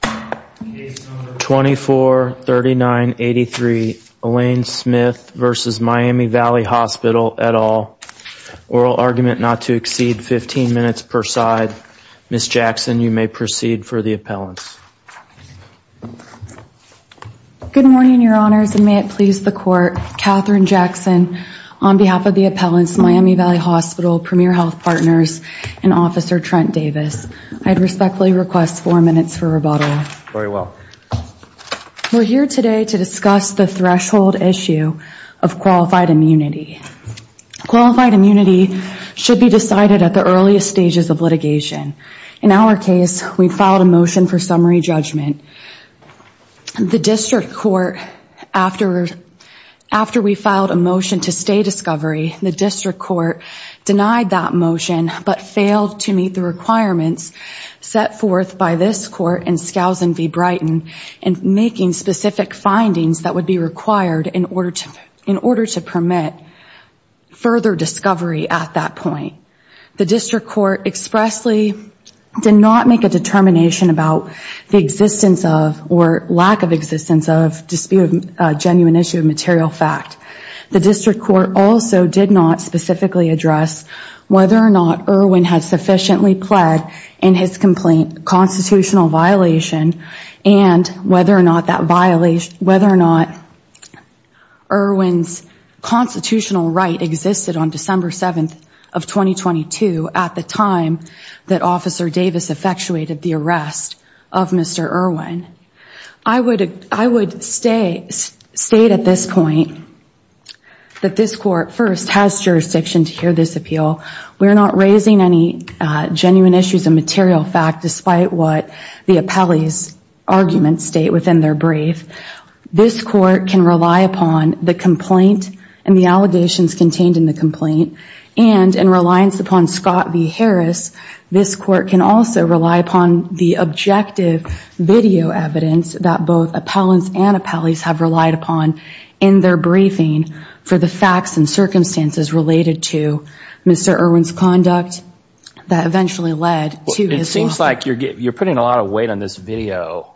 2439 83 Elaine Smith versus Miami Valley Hospital at all oral argument not to exceed 15 minutes per side miss Jackson you may proceed for the appellants good morning your honors and may it please the court Katherine Jackson on behalf of the appellants Miami Valley Hospital premier health partners and officer Trent Davis I'd respectfully request four minutes for bottling very well we're here today to discuss the threshold issue of qualified immunity qualified immunity should be decided at the earliest stages of litigation in our case we filed a motion for summary judgment the district court after after we filed a motion to stay discovery the district court denied that motion but failed to meet the requirements set forth by this court and Scousin v. Brighton and making specific findings that would be required in order to in order to permit further discovery at that point the district court expressly did not make a determination about the existence of or lack of existence of disputed genuine issue of material fact the district court also did not specifically address whether or not Irwin had sufficiently pled in his complaint constitutional violation and whether or not that violation whether or not Irwin's constitutional right existed on December 7th of 2022 at the time that officer Davis effectuated the arrest of mr. Irwin I would I would stay state at this point that this court first has jurisdiction to hear this appeal we're not raising any genuine issues of material fact despite what the appellees argument state within their brief this court can rely upon the complaint and the allegations contained in the complaint and in reliance upon Scott v. Harris this court can also rely upon the objective video evidence that both appellants and appellees have relied upon in their briefing for the facts and circumstances related to mr. Irwin's conduct that eventually led to it seems like you're getting you're putting a lot of weight on this video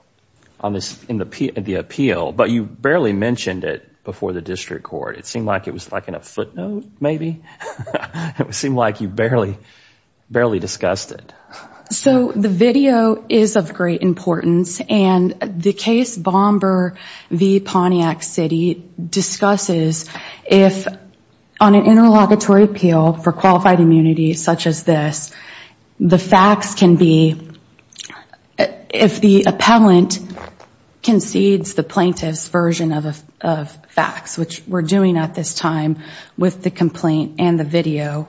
on this in the appeal but you barely mentioned it before the district court it seemed like it was like in a footnote maybe it would seem like you barely barely discussed it so the video is of great importance and the case Bomber v. Pontiac City discusses if on an interlocutory appeal for qualified immunity such as this the facts can be if the appellant concedes the plaintiffs version of facts which we're doing at this time with the complaint and the video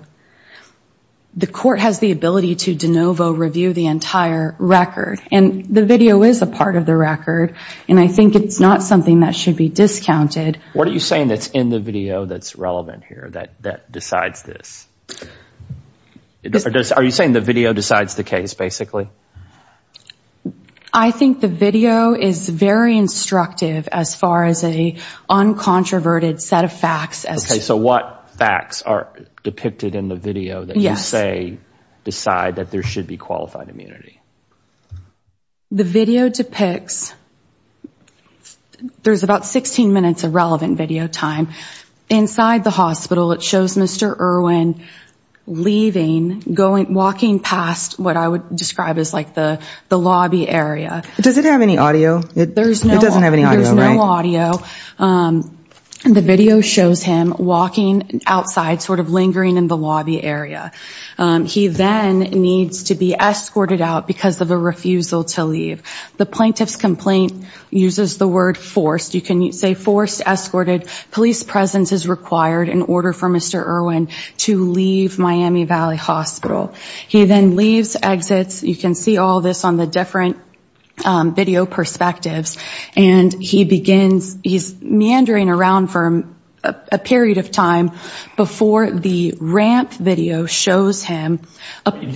the court has the ability to de novo review the entire record and the video is a part of the record and I think it's not something that should be discounted what are you saying that's in the video that's relevant here that that decides this are you saying the video decides the case basically I think the video is very instructive as far as a uncontroverted set of facts okay so what facts are depicted in the video that you say decide that there should be qualified immunity the video depicts there's about 16 minutes of relevant video time inside the hospital it shows mr. Irwin leaving going walking past what I would describe as like the the lobby area does it have any audio there's no audio and the video shows him walking outside sort of lingering in the lobby area he then needs to be escorted out because of a refusal to leave the plaintiff's complaint uses the word forced you can say forced escorted police presence is required in order for mr. Irwin to leave Miami Valley Hospital he then leaves exits you can see all this on the different video perspectives and he begins he's meandering around from a period of time before the ramp video shows him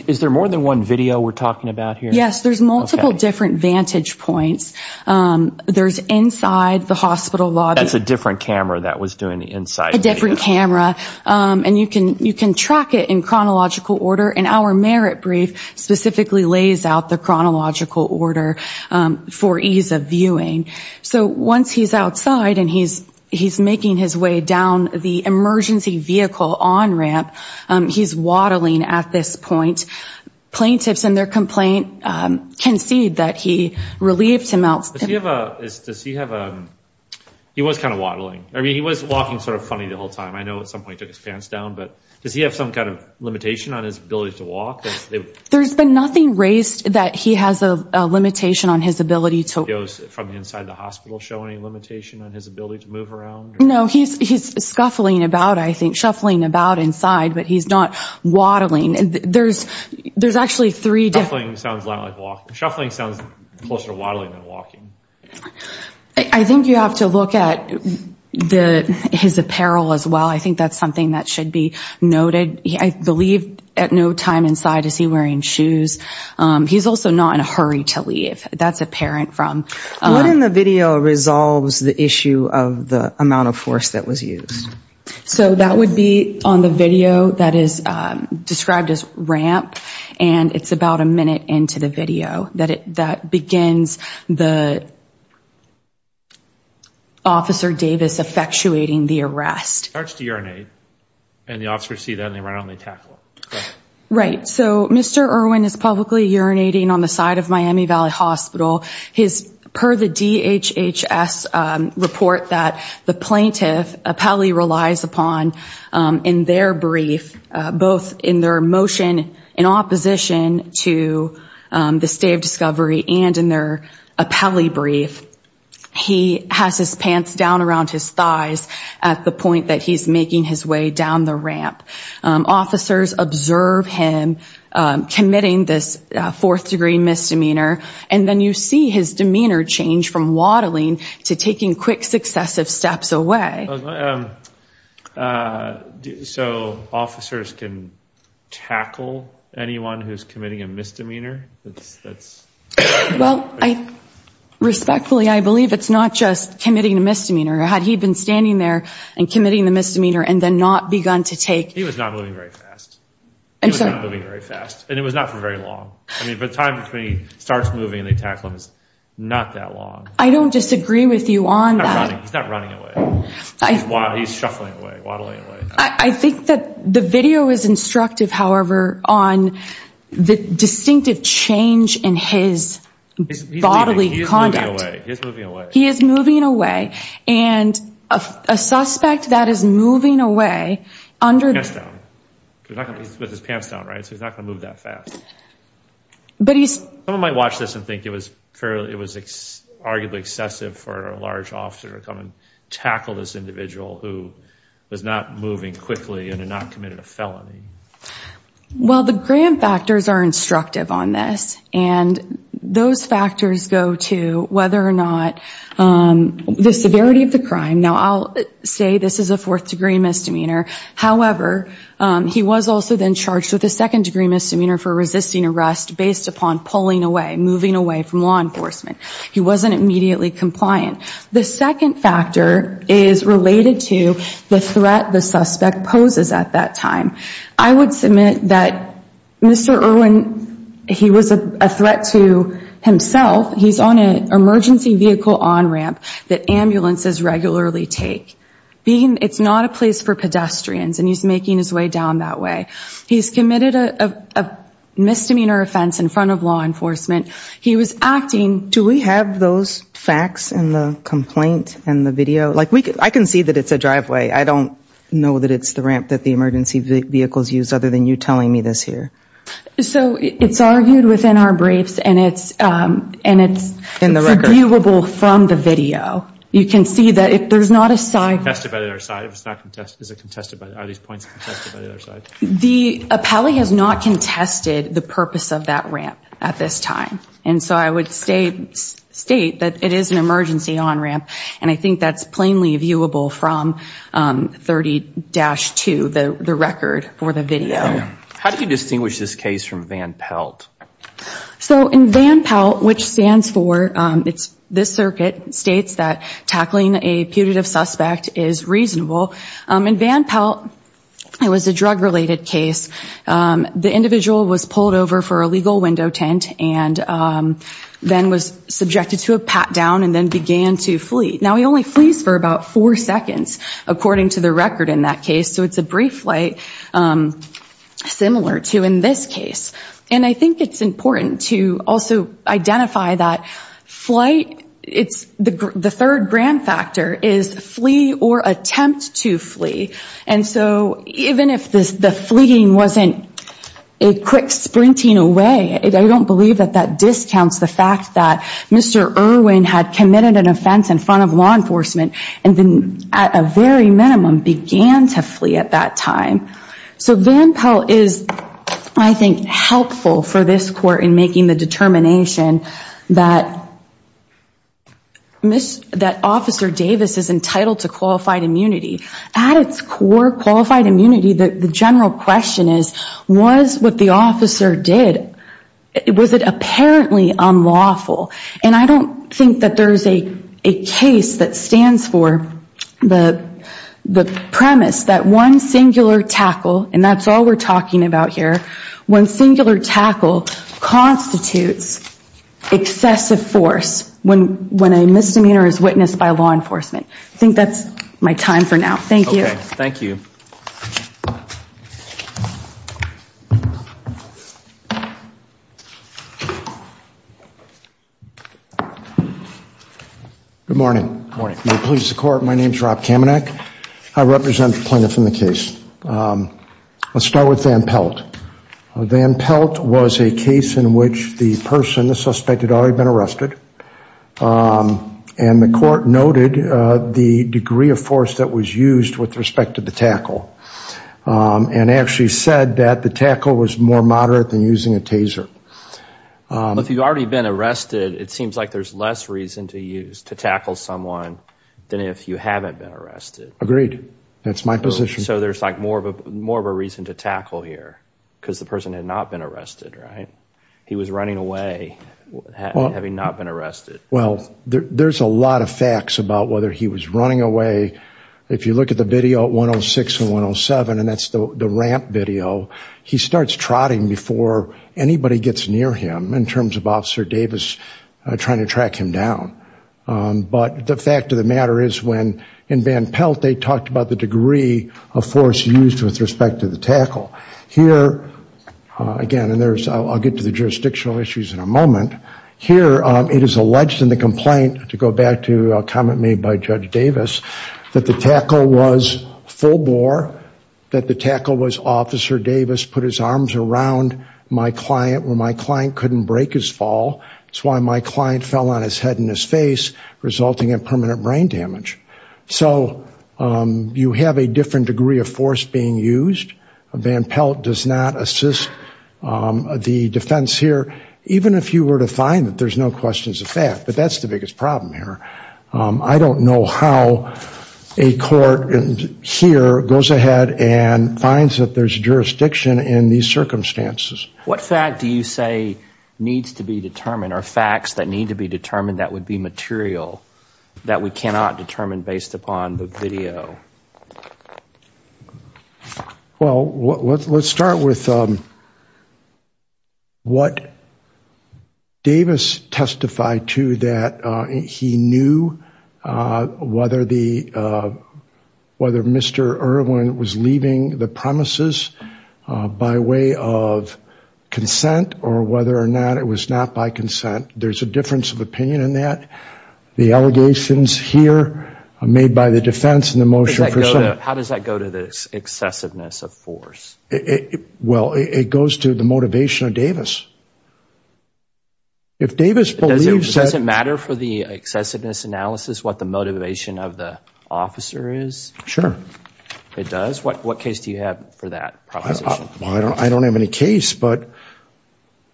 is there more than one video we're talking about here yes there's multiple different vantage points there's inside the hospital lobby that's a different camera that was doing the inside different camera and you can you can track it in chronological order and our merit brief specifically lays out the chronological order for ease of viewing so once he's outside and he's he's making his way down the emergency vehicle on ramp he's waddling at this point plaintiffs and their complaint can see that he relieved him out he was kind of waddling I mean he was walking sort of funny the whole time I know at some point took his pants down but does he have some kind of limitation on his ability to walk there's been nothing raised that he has a limitation on his ability to go from inside the hospital showing limitation on his ability to move around no he's he's scuffling about I think shuffling about inside but he's not waddling and there's there's actually three different sounds like walking shuffling sounds closer waddling than walking I think you have to look at the his apparel as well I think that's something that should be at no time inside is he wearing shoes he's also not in a hurry to leave that's apparent from the video resolves the issue of the amount of force that was used so that would be on the video that is described as ramp and it's about a minute into the video that it that begins the officer Davis effectuating the arrest starts to urinate and the officer see that they run on they tackle right so mr. Irwin is publicly urinating on the side of Miami Valley Hospital his per the DHHS report that the plaintiff appellee relies upon in their brief both in their motion in opposition to the state of discovery and in their appellee brief he has his pants down around his thighs at the point that he's making his way down the ramp officers observe him committing this fourth-degree misdemeanor and then you see his demeanor change from waddling to taking quick successive steps away so officers can tackle anyone who's committing a misdemeanor that's well I respectfully I believe it's not just committing a misdemeanor had he been standing there and committing the misdemeanor and then not begun to take he was not moving very fast and so very fast and it was not for very long I mean but time between starts moving they tackle him it's not that long I don't disagree with you on that I think that the video is instructive however on the distinctive change in his bodily conduct he is moving away and a suspect that is moving away under his pants down right so he's not gonna move that fast but he's someone might watch this and think it was fairly it was arguably excessive for a large officer to come and tackle this individual who was not moving quickly and not committed a felony well the grand factors are instructive on this and those factors go to whether or not the severity of the crime now I'll say this is a fourth-degree misdemeanor however he was also then charged with a second-degree misdemeanor for resisting arrest based upon pulling away moving away from law enforcement he wasn't immediately compliant the second factor is related to the threat the suspect poses at that time I would submit that mr. Irwin he was a threat to himself he's on an emergency vehicle on ramp that ambulances regularly take being it's not a place for pedestrians and he's making his way down that way he's committed a misdemeanor offense in front of law enforcement he was acting do we have those facts and the complaint and the video like we could I can see that it's the driveway I don't know that it's the ramp that the emergency vehicles use other than you telling me this here so it's argued within our briefs and it's and it's in the record viewable from the video you can see that if there's not a side the appellee has not contested the purpose of that ramp at this time and so I would state state that it is an emergency on ramp and I think that's plainly viewable from 30 dash to the record for the video how do you distinguish this case from van Pelt so in van Pelt which stands for it's this circuit states that tackling a putative suspect is reasonable in van Pelt it was a drug-related case the individual was pulled over for a legal window tint and then was subjected to a pat-down and then began to flee now he only flees for about four seconds according to the record in that case so it's a brief flight similar to in this case and I think it's important to also identify that flight it's the third grand factor is flee or attempt to flee and so even if this the fleeing wasn't a quick sprinting away I don't believe that that discounts the fact that mr. Irwin had committed an offense in front of law enforcement and then at a very minimum began to flee at that time so van Pelt is I think helpful for this court in making the determination that miss that officer Davis is entitled to qualified immunity at its core qualified immunity that the general question is was what the officer did it was it apparently unlawful and I don't think that there's a case that stands for the the premise that one singular tackle and that's all we're talking about here one singular tackle constitutes excessive force when when a misdemeanor is witnessed by law enforcement I think that's my time for now thank you thank you good morning morning please the court my name is Rob Kamenek I represent the plaintiff in the case let's start with van Pelt van Pelt was a case in which the person the suspect had already been arrested and the court noted the degree of force that was used with respect to the tackle and actually said that the tackle was more moderate than using a taser if you've already been arrested it seems like there's less reason to use to tackle someone than if you haven't been arrested agreed that's my position so there's like more of a more of a reason to tackle here because the person had not been arrested right he was running away having not been arrested well there's a lot of facts about whether he was running away if you look at the video at 106 and 107 and that's the ramp video he starts trotting before anybody gets near him in terms of officer Davis trying to track him down but the fact of the matter is when in van Pelt they talked about the degree of force used with respect to the tackle here again and there's I'll get to the jurisdictional issues in a moment here it is alleged in the complaint to go back to a comment made by judge Davis that the tackle was full bore that the tackle was officer Davis put his arms around my client when my client couldn't break his fall it's why my client fell on his head in his face resulting in permanent brain damage so you have a different degree of force being used van Pelt does not assist the defense here even if you were to find that there's no questions of fact but that's the biggest problem here I don't know how a court here goes ahead and finds that there's jurisdiction in these circumstances what fact do you say needs to be determined are facts that need to be determined that would be material that we cannot determine based upon the video well let's start with what Davis testified to that he knew whether the whether mr. Irwin was leaving the premises by way of consent or whether or not it was not by consent there's a difference of opinion in that the allegations here made by the defense in the motion how does that go to this excessiveness of force it well it goes to the motivation of Davis if Davis doesn't matter for the excessiveness analysis what the motivation of the officer is sure it does what what case do you have for that I don't have any case but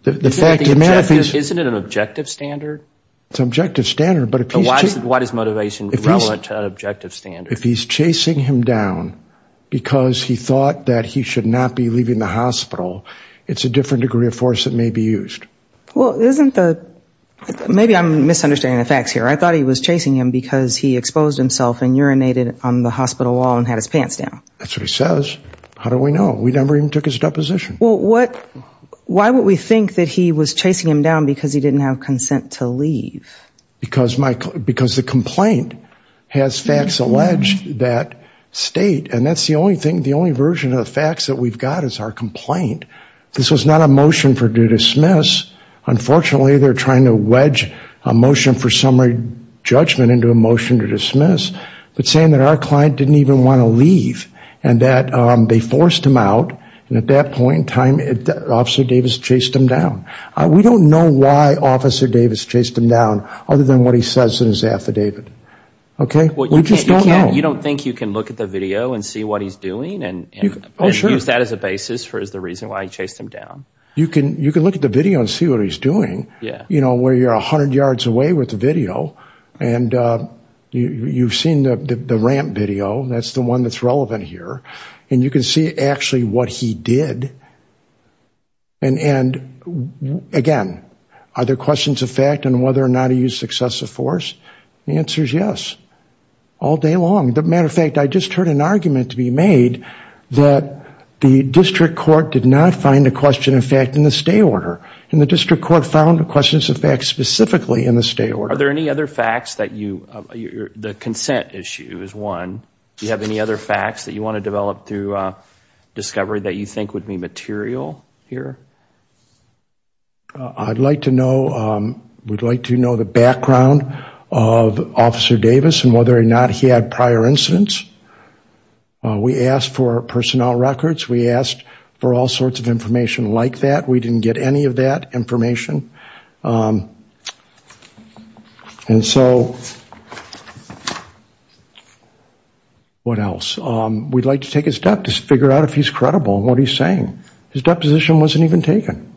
the fact is isn't it an objective standard it's objective standard but a piece of what is motivation if he's an objective standard if he's chasing him down because he thought that he should not be leaving the hospital it's a different degree of force that may be used well isn't the maybe I'm misunderstanding the facts here I thought he was chasing him because he exposed himself and urinated on the hospital wall and had his pants down that's what he says how do we know we never even took his deposition well what why would we think that he was chasing him down because he didn't have consent to leave because my because the complaint has facts alleged that state and that's the only thing the only version of the facts that we've got is our complaint this was not a motion for due dismiss unfortunately they're trying to wedge a motion for summary judgment into a motion to dismiss but saying that our client didn't even want to leave and that they forced him out and at that point in time it officer Davis chased him down we don't know why officer Davis chased him down other than what he says in his affidavit okay well you just don't know you don't think you can look at the video and see what he's doing and use that as a basis for is the reason why I chased him down you can you can look at the video and see what he's doing yeah you know where you're a hundred yards away with the video and you've seen the ramp video that's the one that's relevant here and you can see actually what he did and and again are there questions of fact and whether or not he used excessive force the answer is all day long the matter of fact I just heard an argument to be made that the district court did not find a question in fact in the stay order and the district court found the questions of fact specifically in the stay order are there any other facts that you the consent issue is one you have any other facts that you want to develop through discovery that you think would be material here I'd like to know we'd like to know the background of officer Davis and whether or not he had prior incidents we asked for personnel records we asked for all sorts of information like that we didn't get any of that information and so what else we'd like to take a step to figure out if he's credible what are you saying his deposition wasn't even taken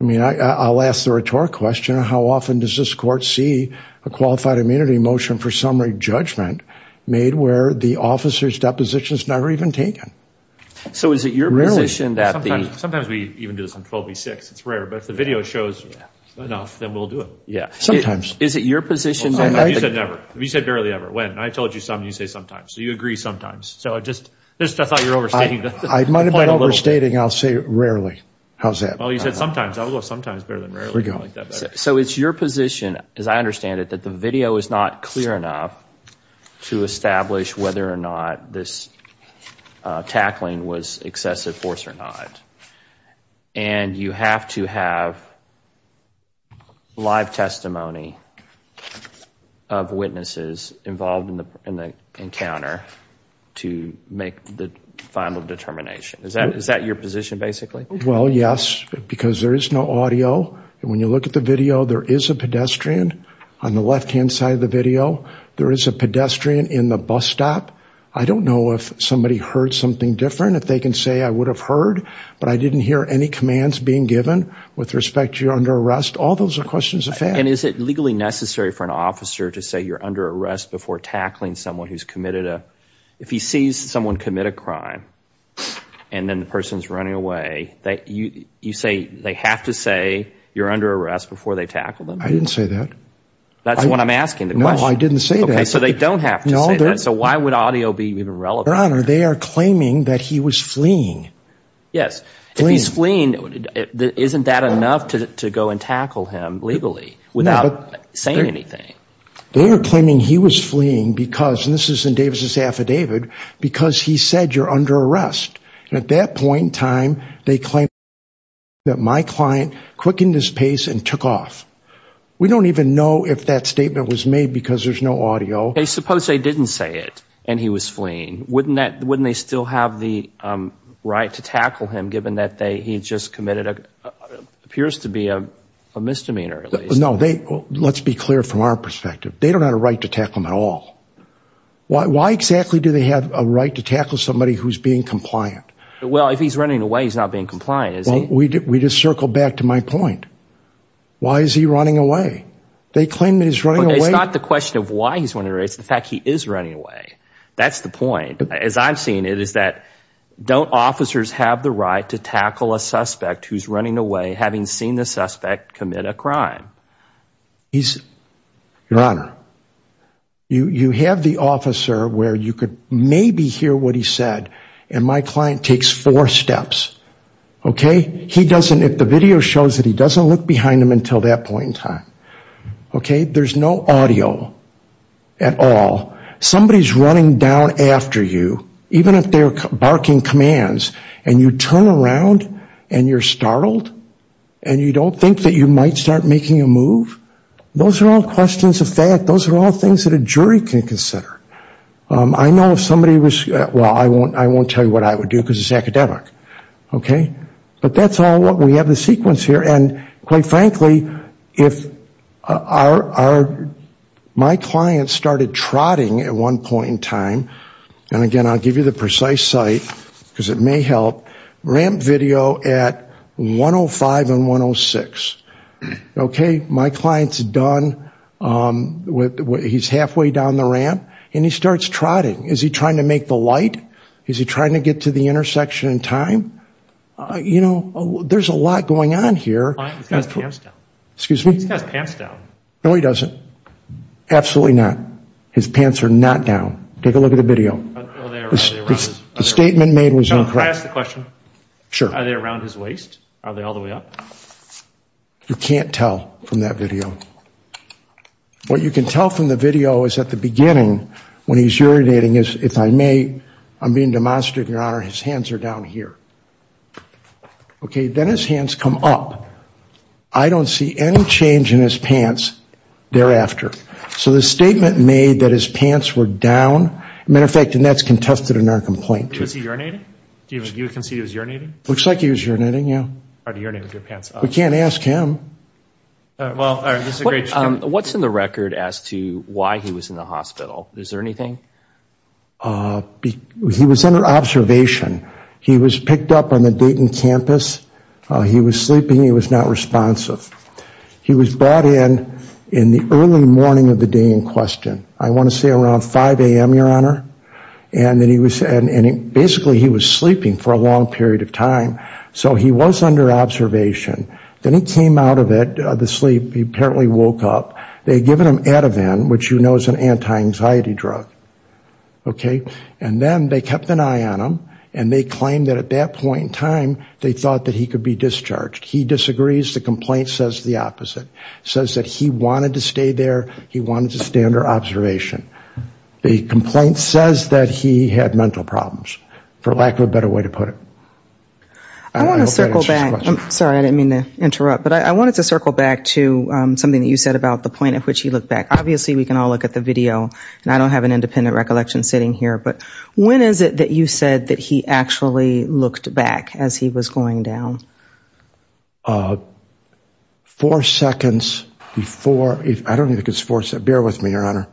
I mean I I'll ask the rhetoric question how often does this court see a qualified immunity motion for summary judgment made where the officers depositions never even taken so is it your position that the sometimes we even do this on 12 v6 it's rare but if the video shows enough then we'll do it yeah sometimes is it your position that I said never we said barely ever when I told you some you say sometimes so you agree sometimes so I just just I thought you're overstating I might have been overstating I'll say rarely how's that sometimes so it's your position as I understand it that the video is not clear enough to establish whether or not this tackling was excessive force or not and you have to have live testimony of witnesses involved in the encounter to make the final determination is that is that your position basically well yes because there is no audio when you look at the video there is a pedestrian on the left-hand side of the video there is a pedestrian in the bus stop I don't know if somebody heard something different if they can say I would have heard but I didn't hear any commands being given with respect you're under arrest all those are questions of and is it legally necessary for an officer to say you're under arrest before tackling someone who's committed a if he sees someone commit a crime and then the person's running away that you you say they have to say you're under arrest before they tackle them I didn't say that that's what I'm asking the no I didn't say that okay so they don't have no so why would audio be even relevant honor they are claiming that he was fleeing yes he's fleeing isn't that enough to go and tackle him legally without saying anything they were claiming he was fleeing because this is in Davis's affidavit because he said you're under arrest at that point in time they claim that my client quickened his pace and took off we don't even know if that statement was made because there's no audio they suppose they didn't say it and he was fleeing wouldn't that wouldn't they still have the right to tackle him given that they he just committed a appears to be a misdemeanor no they let's be clear from our perspective they don't have a right to tackle him at all why exactly do they have a right to tackle somebody who's being compliant well if he's running away he's not being compliant is he we did we just circled back to my point why is he running away they claim that he's running away it's not the question of why he's wondering it's the fact he is running away that's the point as I'm seeing it is that don't officers have the right to tackle a suspect who's running away having seen the suspect commit a crime he's your honor you you have the officer where you could maybe hear what he said and my client takes four steps okay he doesn't if the video shows that he doesn't look behind him until that point in time okay there's no audio at all somebody's running down after you even if they're barking commands and you turn around and you're startled and you don't think that you might start making a move those are all questions of fact those are all things that a jury can consider I know if somebody was well I won't I won't tell you what I would do because it's academic okay but that's all what we have the sequence here and quite frankly if our my clients started trotting at one point in time and again I'll give you the precise site because it may help ramp video at 105 and 106 okay my clients done with what he's halfway down the ramp and he starts trotting is he trying to make the light is he trying to get to the intersection in time you know there's a lot going on here excuse me no he doesn't absolutely not his pants are not down take a look at the video statement made was incorrect question sure are they around his waist are they all the way up you can't tell from that video what you can tell from the video is at the beginning when he's urinating is if I may I'm being demonstrative your honor his hands are down here okay then his hands come up I don't see any change in his pants thereafter so the statement made that his pants were down matter of fact that's contested in our complaint is he urinating do you even you can see his urinating looks like he was urinating yeah I do your name with your pants we can't ask him well what's in the record as to why he was in the hospital is there anything he was under observation he was picked up on the Dayton campus he was sleeping he was not responsive he was brought in in the early morning of the day in question I want to say around 5 a.m. your honor and then he was and it basically he was sleeping for a long period of time so he was under observation then he came out of it the sleep he apparently woke up they given him at a van which you know is an anti-anxiety drug okay and then they kept an eye on him and they claimed that at that point in time they thought that he could be discharged he disagrees the complaint says the opposite says that he wanted to stay there he wanted to stay under observation the complaint says that he had mental problems for lack of a better way to put it I want to circle back I'm sorry I didn't mean to interrupt but I wanted to circle back to something that you said about the point at which he looked back obviously we can all look at the video and I don't have an independent recollection sitting here but when is it that you said that he actually looked back as he was going down four seconds before if I don't think it's force that bear with me your honor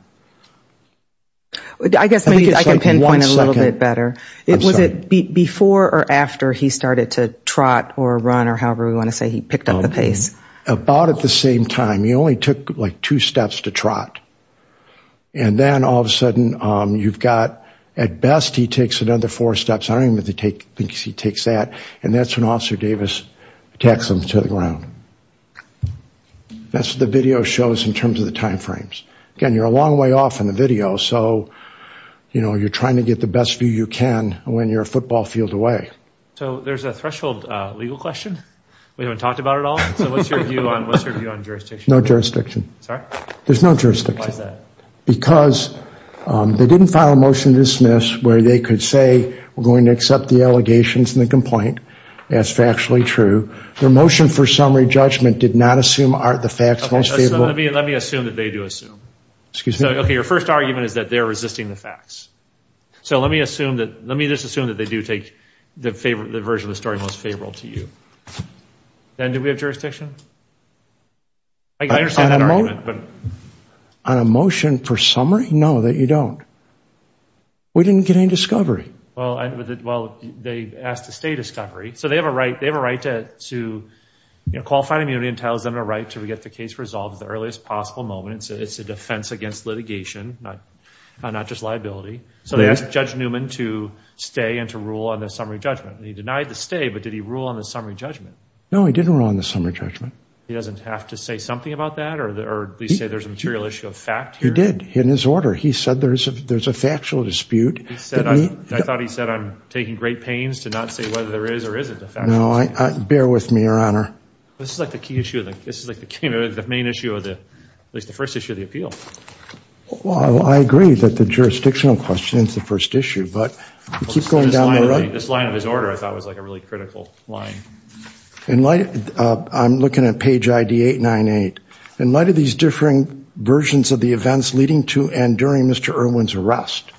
I guess maybe I can pinpoint a little bit better it was it before or after he started to trot or run or however we want to say he picked up the pace about at the same time he only took like two steps to trot and then all of a sudden you've got at best he takes another four steps I don't even to take he takes that and that's an officer Davis attacks them to the ground that's what the video shows in terms of the time frames again you're a long way off in the video so you know you're trying to get the best view you can when you're a football field away so there's a threshold legal question we haven't talked about it all no jurisdiction there's no jurisdiction because they didn't file a motion to dismiss where they could say we're going to accept the allegations in the complaint that's factually true their motion for summary judgment did not assume are the facts mostly let me assume that they do assume excuse me okay your first argument is that they're resisting the facts so let me assume that let me just assume that they do take the favorite the version of the story most favorable to you then do we have jurisdiction I understand I'm alone but on a motion for summary no that you don't we didn't get any discovery well they asked to stay discovery so they have a right they have a right to to you know qualified immunity entails them a right to get the case resolved the earliest possible moment so it's a defense against litigation not not just liability so they asked judge Newman to stay and to rule on the summary judgment he denied the stay but did he rule on the summary judgment no he didn't rule on the summary judgment he doesn't have to say something about that or they say there's a material issue of fact you did in his order he said there's a there's a factual dispute he said I thought he said I'm taking great pains to not say whether there is or isn't no I bear with me your honor this is like the key issue that this is like the camera the main issue of the at least the first issue of the appeal well I agree that the jurisdictional question is the first issue but keep going down this line of disorder I thought was like a really critical line in light I'm looking at page ID eight nine eight in light of these differing versions of the events leading to and during mr. Irwin's arrest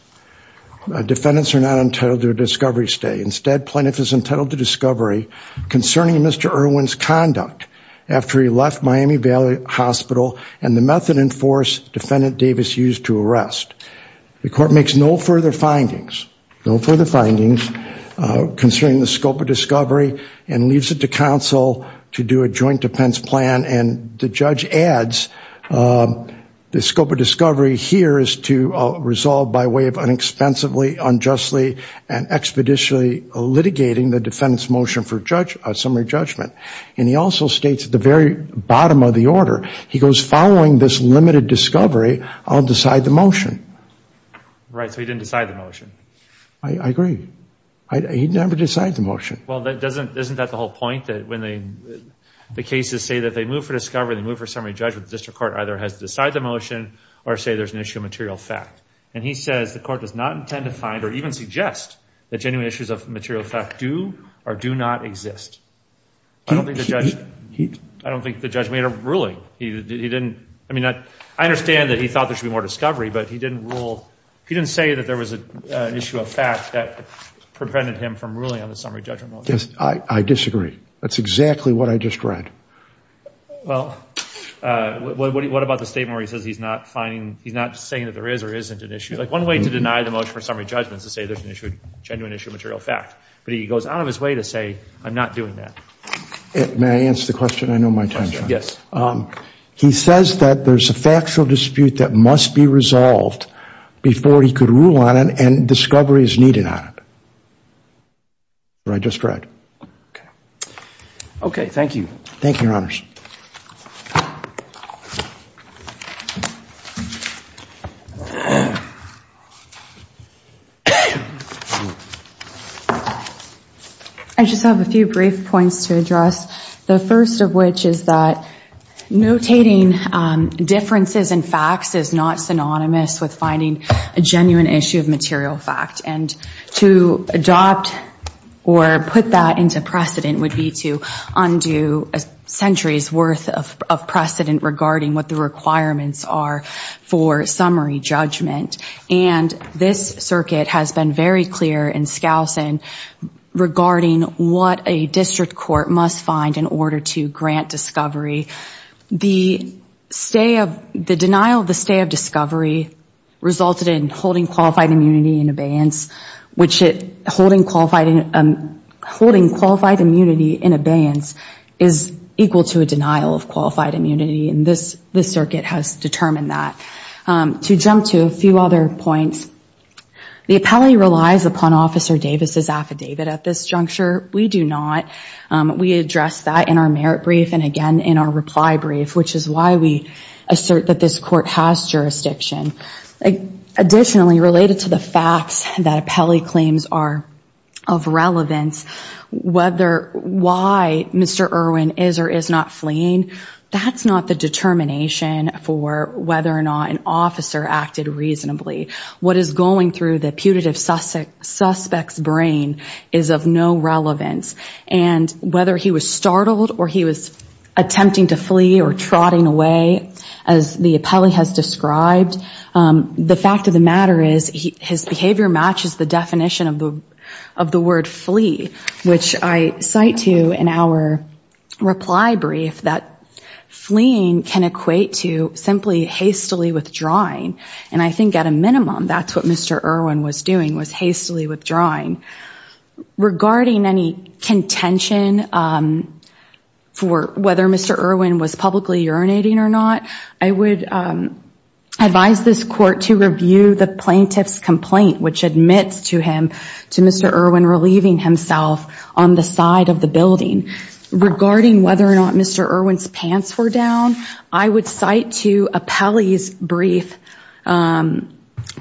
defendants are not entitled to a discovery stay instead plaintiff is entitled to discovery concerning mr. Irwin's conduct after he left Miami Valley Hospital and the method in force defendant Davis used to arrest the court makes no further findings no further findings concerning the scope of discovery and leaves it to counsel to do a joint defense plan and the judge adds the scope of discovery here is to resolve by way of inexpensively unjustly and expeditiously litigating the defendants motion for judge a summary judgment and he also states at the very bottom of the order he goes following this limited discovery I'll decide the motion right so he didn't decide the motion I agree he never decided the well that doesn't isn't that the whole point that when they the cases say that they move for discovery move for summary judge with the district court either has to decide the motion or say there's an issue of material fact and he says the court does not intend to find or even suggest that genuine issues of material fact do or do not exist I don't think the judge heat I don't think the judge made a ruling he didn't I mean that I understand that he thought there should be more discovery but he didn't rule he didn't say that there was a issue of yes I disagree that's exactly what I just read well what about the state where he says he's not finding he's not saying that there is or isn't an issue like one way to deny the motion for summary judgments to say there's an issue genuine issue material fact but he goes out of his way to say I'm not doing that it may answer the question I know my time yes he says that there's a factual dispute that must be resolved before he could rule on it and discovery is needed on it or I just read okay thank you thank you your honors I just have a few brief points to address the first of which is that notating differences in facts is not synonymous with finding a genuine issue of material fact and to adopt or put that into precedent would be to undo a century's worth of precedent regarding what the requirements are for summary judgment and this circuit has been very clear in Skousen regarding what a district court must find in order to grant discovery the stay of the denial of the stay of discovery resulted in holding qualified immunity in abeyance which it holding qualified and holding qualified immunity in abeyance is equal to a denial of qualified immunity and this this circuit has determined that to jump to a few other points the appellee relies upon officer Davis's affidavit at this juncture we do not we address that in our merit brief and again in our reply brief which is why we assert that this court has jurisdiction additionally related to the facts that appellee claims are of relevance whether why mr. Irwin is or is not fleeing that's not the determination for whether or not an officer acted reasonably what is going through the putative suspect suspects brain is of no relevance and whether he was startled or he was attempting to flee or trotting away as the appellee has described the fact of the matter is his behavior matches the definition of the of the word flee which I cite to in our reply brief that fleeing can equate to simply hastily withdrawing and I think at a minimum that's what mr. Irwin was doing was hastily withdrawing regarding any contention for whether mr. Irwin was publicly urinating or not I would advise this court to review the plaintiff's complaint which admits to him to mr. Irwin relieving himself on the side of the building regarding whether or not mr. Irwin's pants were down I would cite to a pally's brief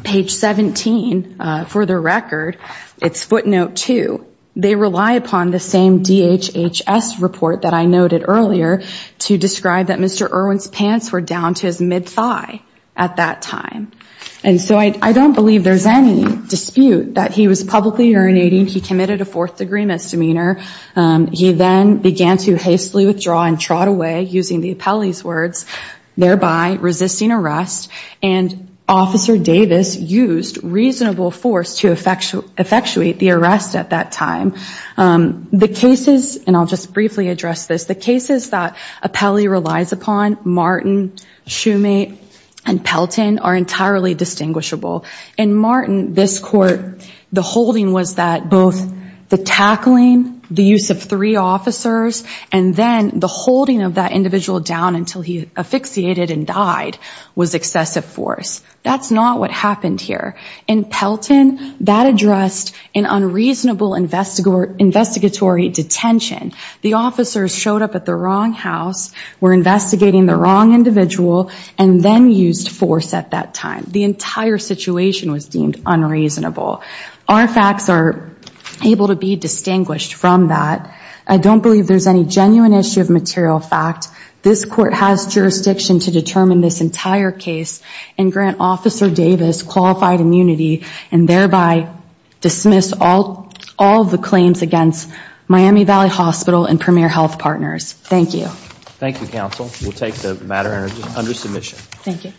page 17 for the record it's footnote 2 they rely upon the same DHHS report that I noted earlier to describe that mr. Irwin's pants were down to his mid thigh at that time and so I don't believe there's any dispute that he was publicly urinating he committed a fourth-degree misdemeanor he then began to hastily withdraw and trot away using the appellee's words thereby resisting arrest and officer Davis used reasonable force to effectual effectuate the arrest at that time the cases and I'll just briefly address this the cases that a pally relies upon Martin shoemake and Pelton are entirely distinguishable and Martin this court the holding was that both the tackling the use of three and then the holding of that individual down until he asphyxiated and died was excessive force that's not what happened here in Pelton that addressed an unreasonable investigate investigatory detention the officers showed up at the wrong house were investigating the wrong individual and then used force at that time the entire situation was deemed unreasonable our facts are able to be from that I don't believe there's any genuine issue of material fact this court has jurisdiction to determine this entire case and grant officer Davis qualified immunity and thereby dismiss all all the claims against Miami Valley Hospital and premier health partners thank you thank you counsel we'll take the matter under submission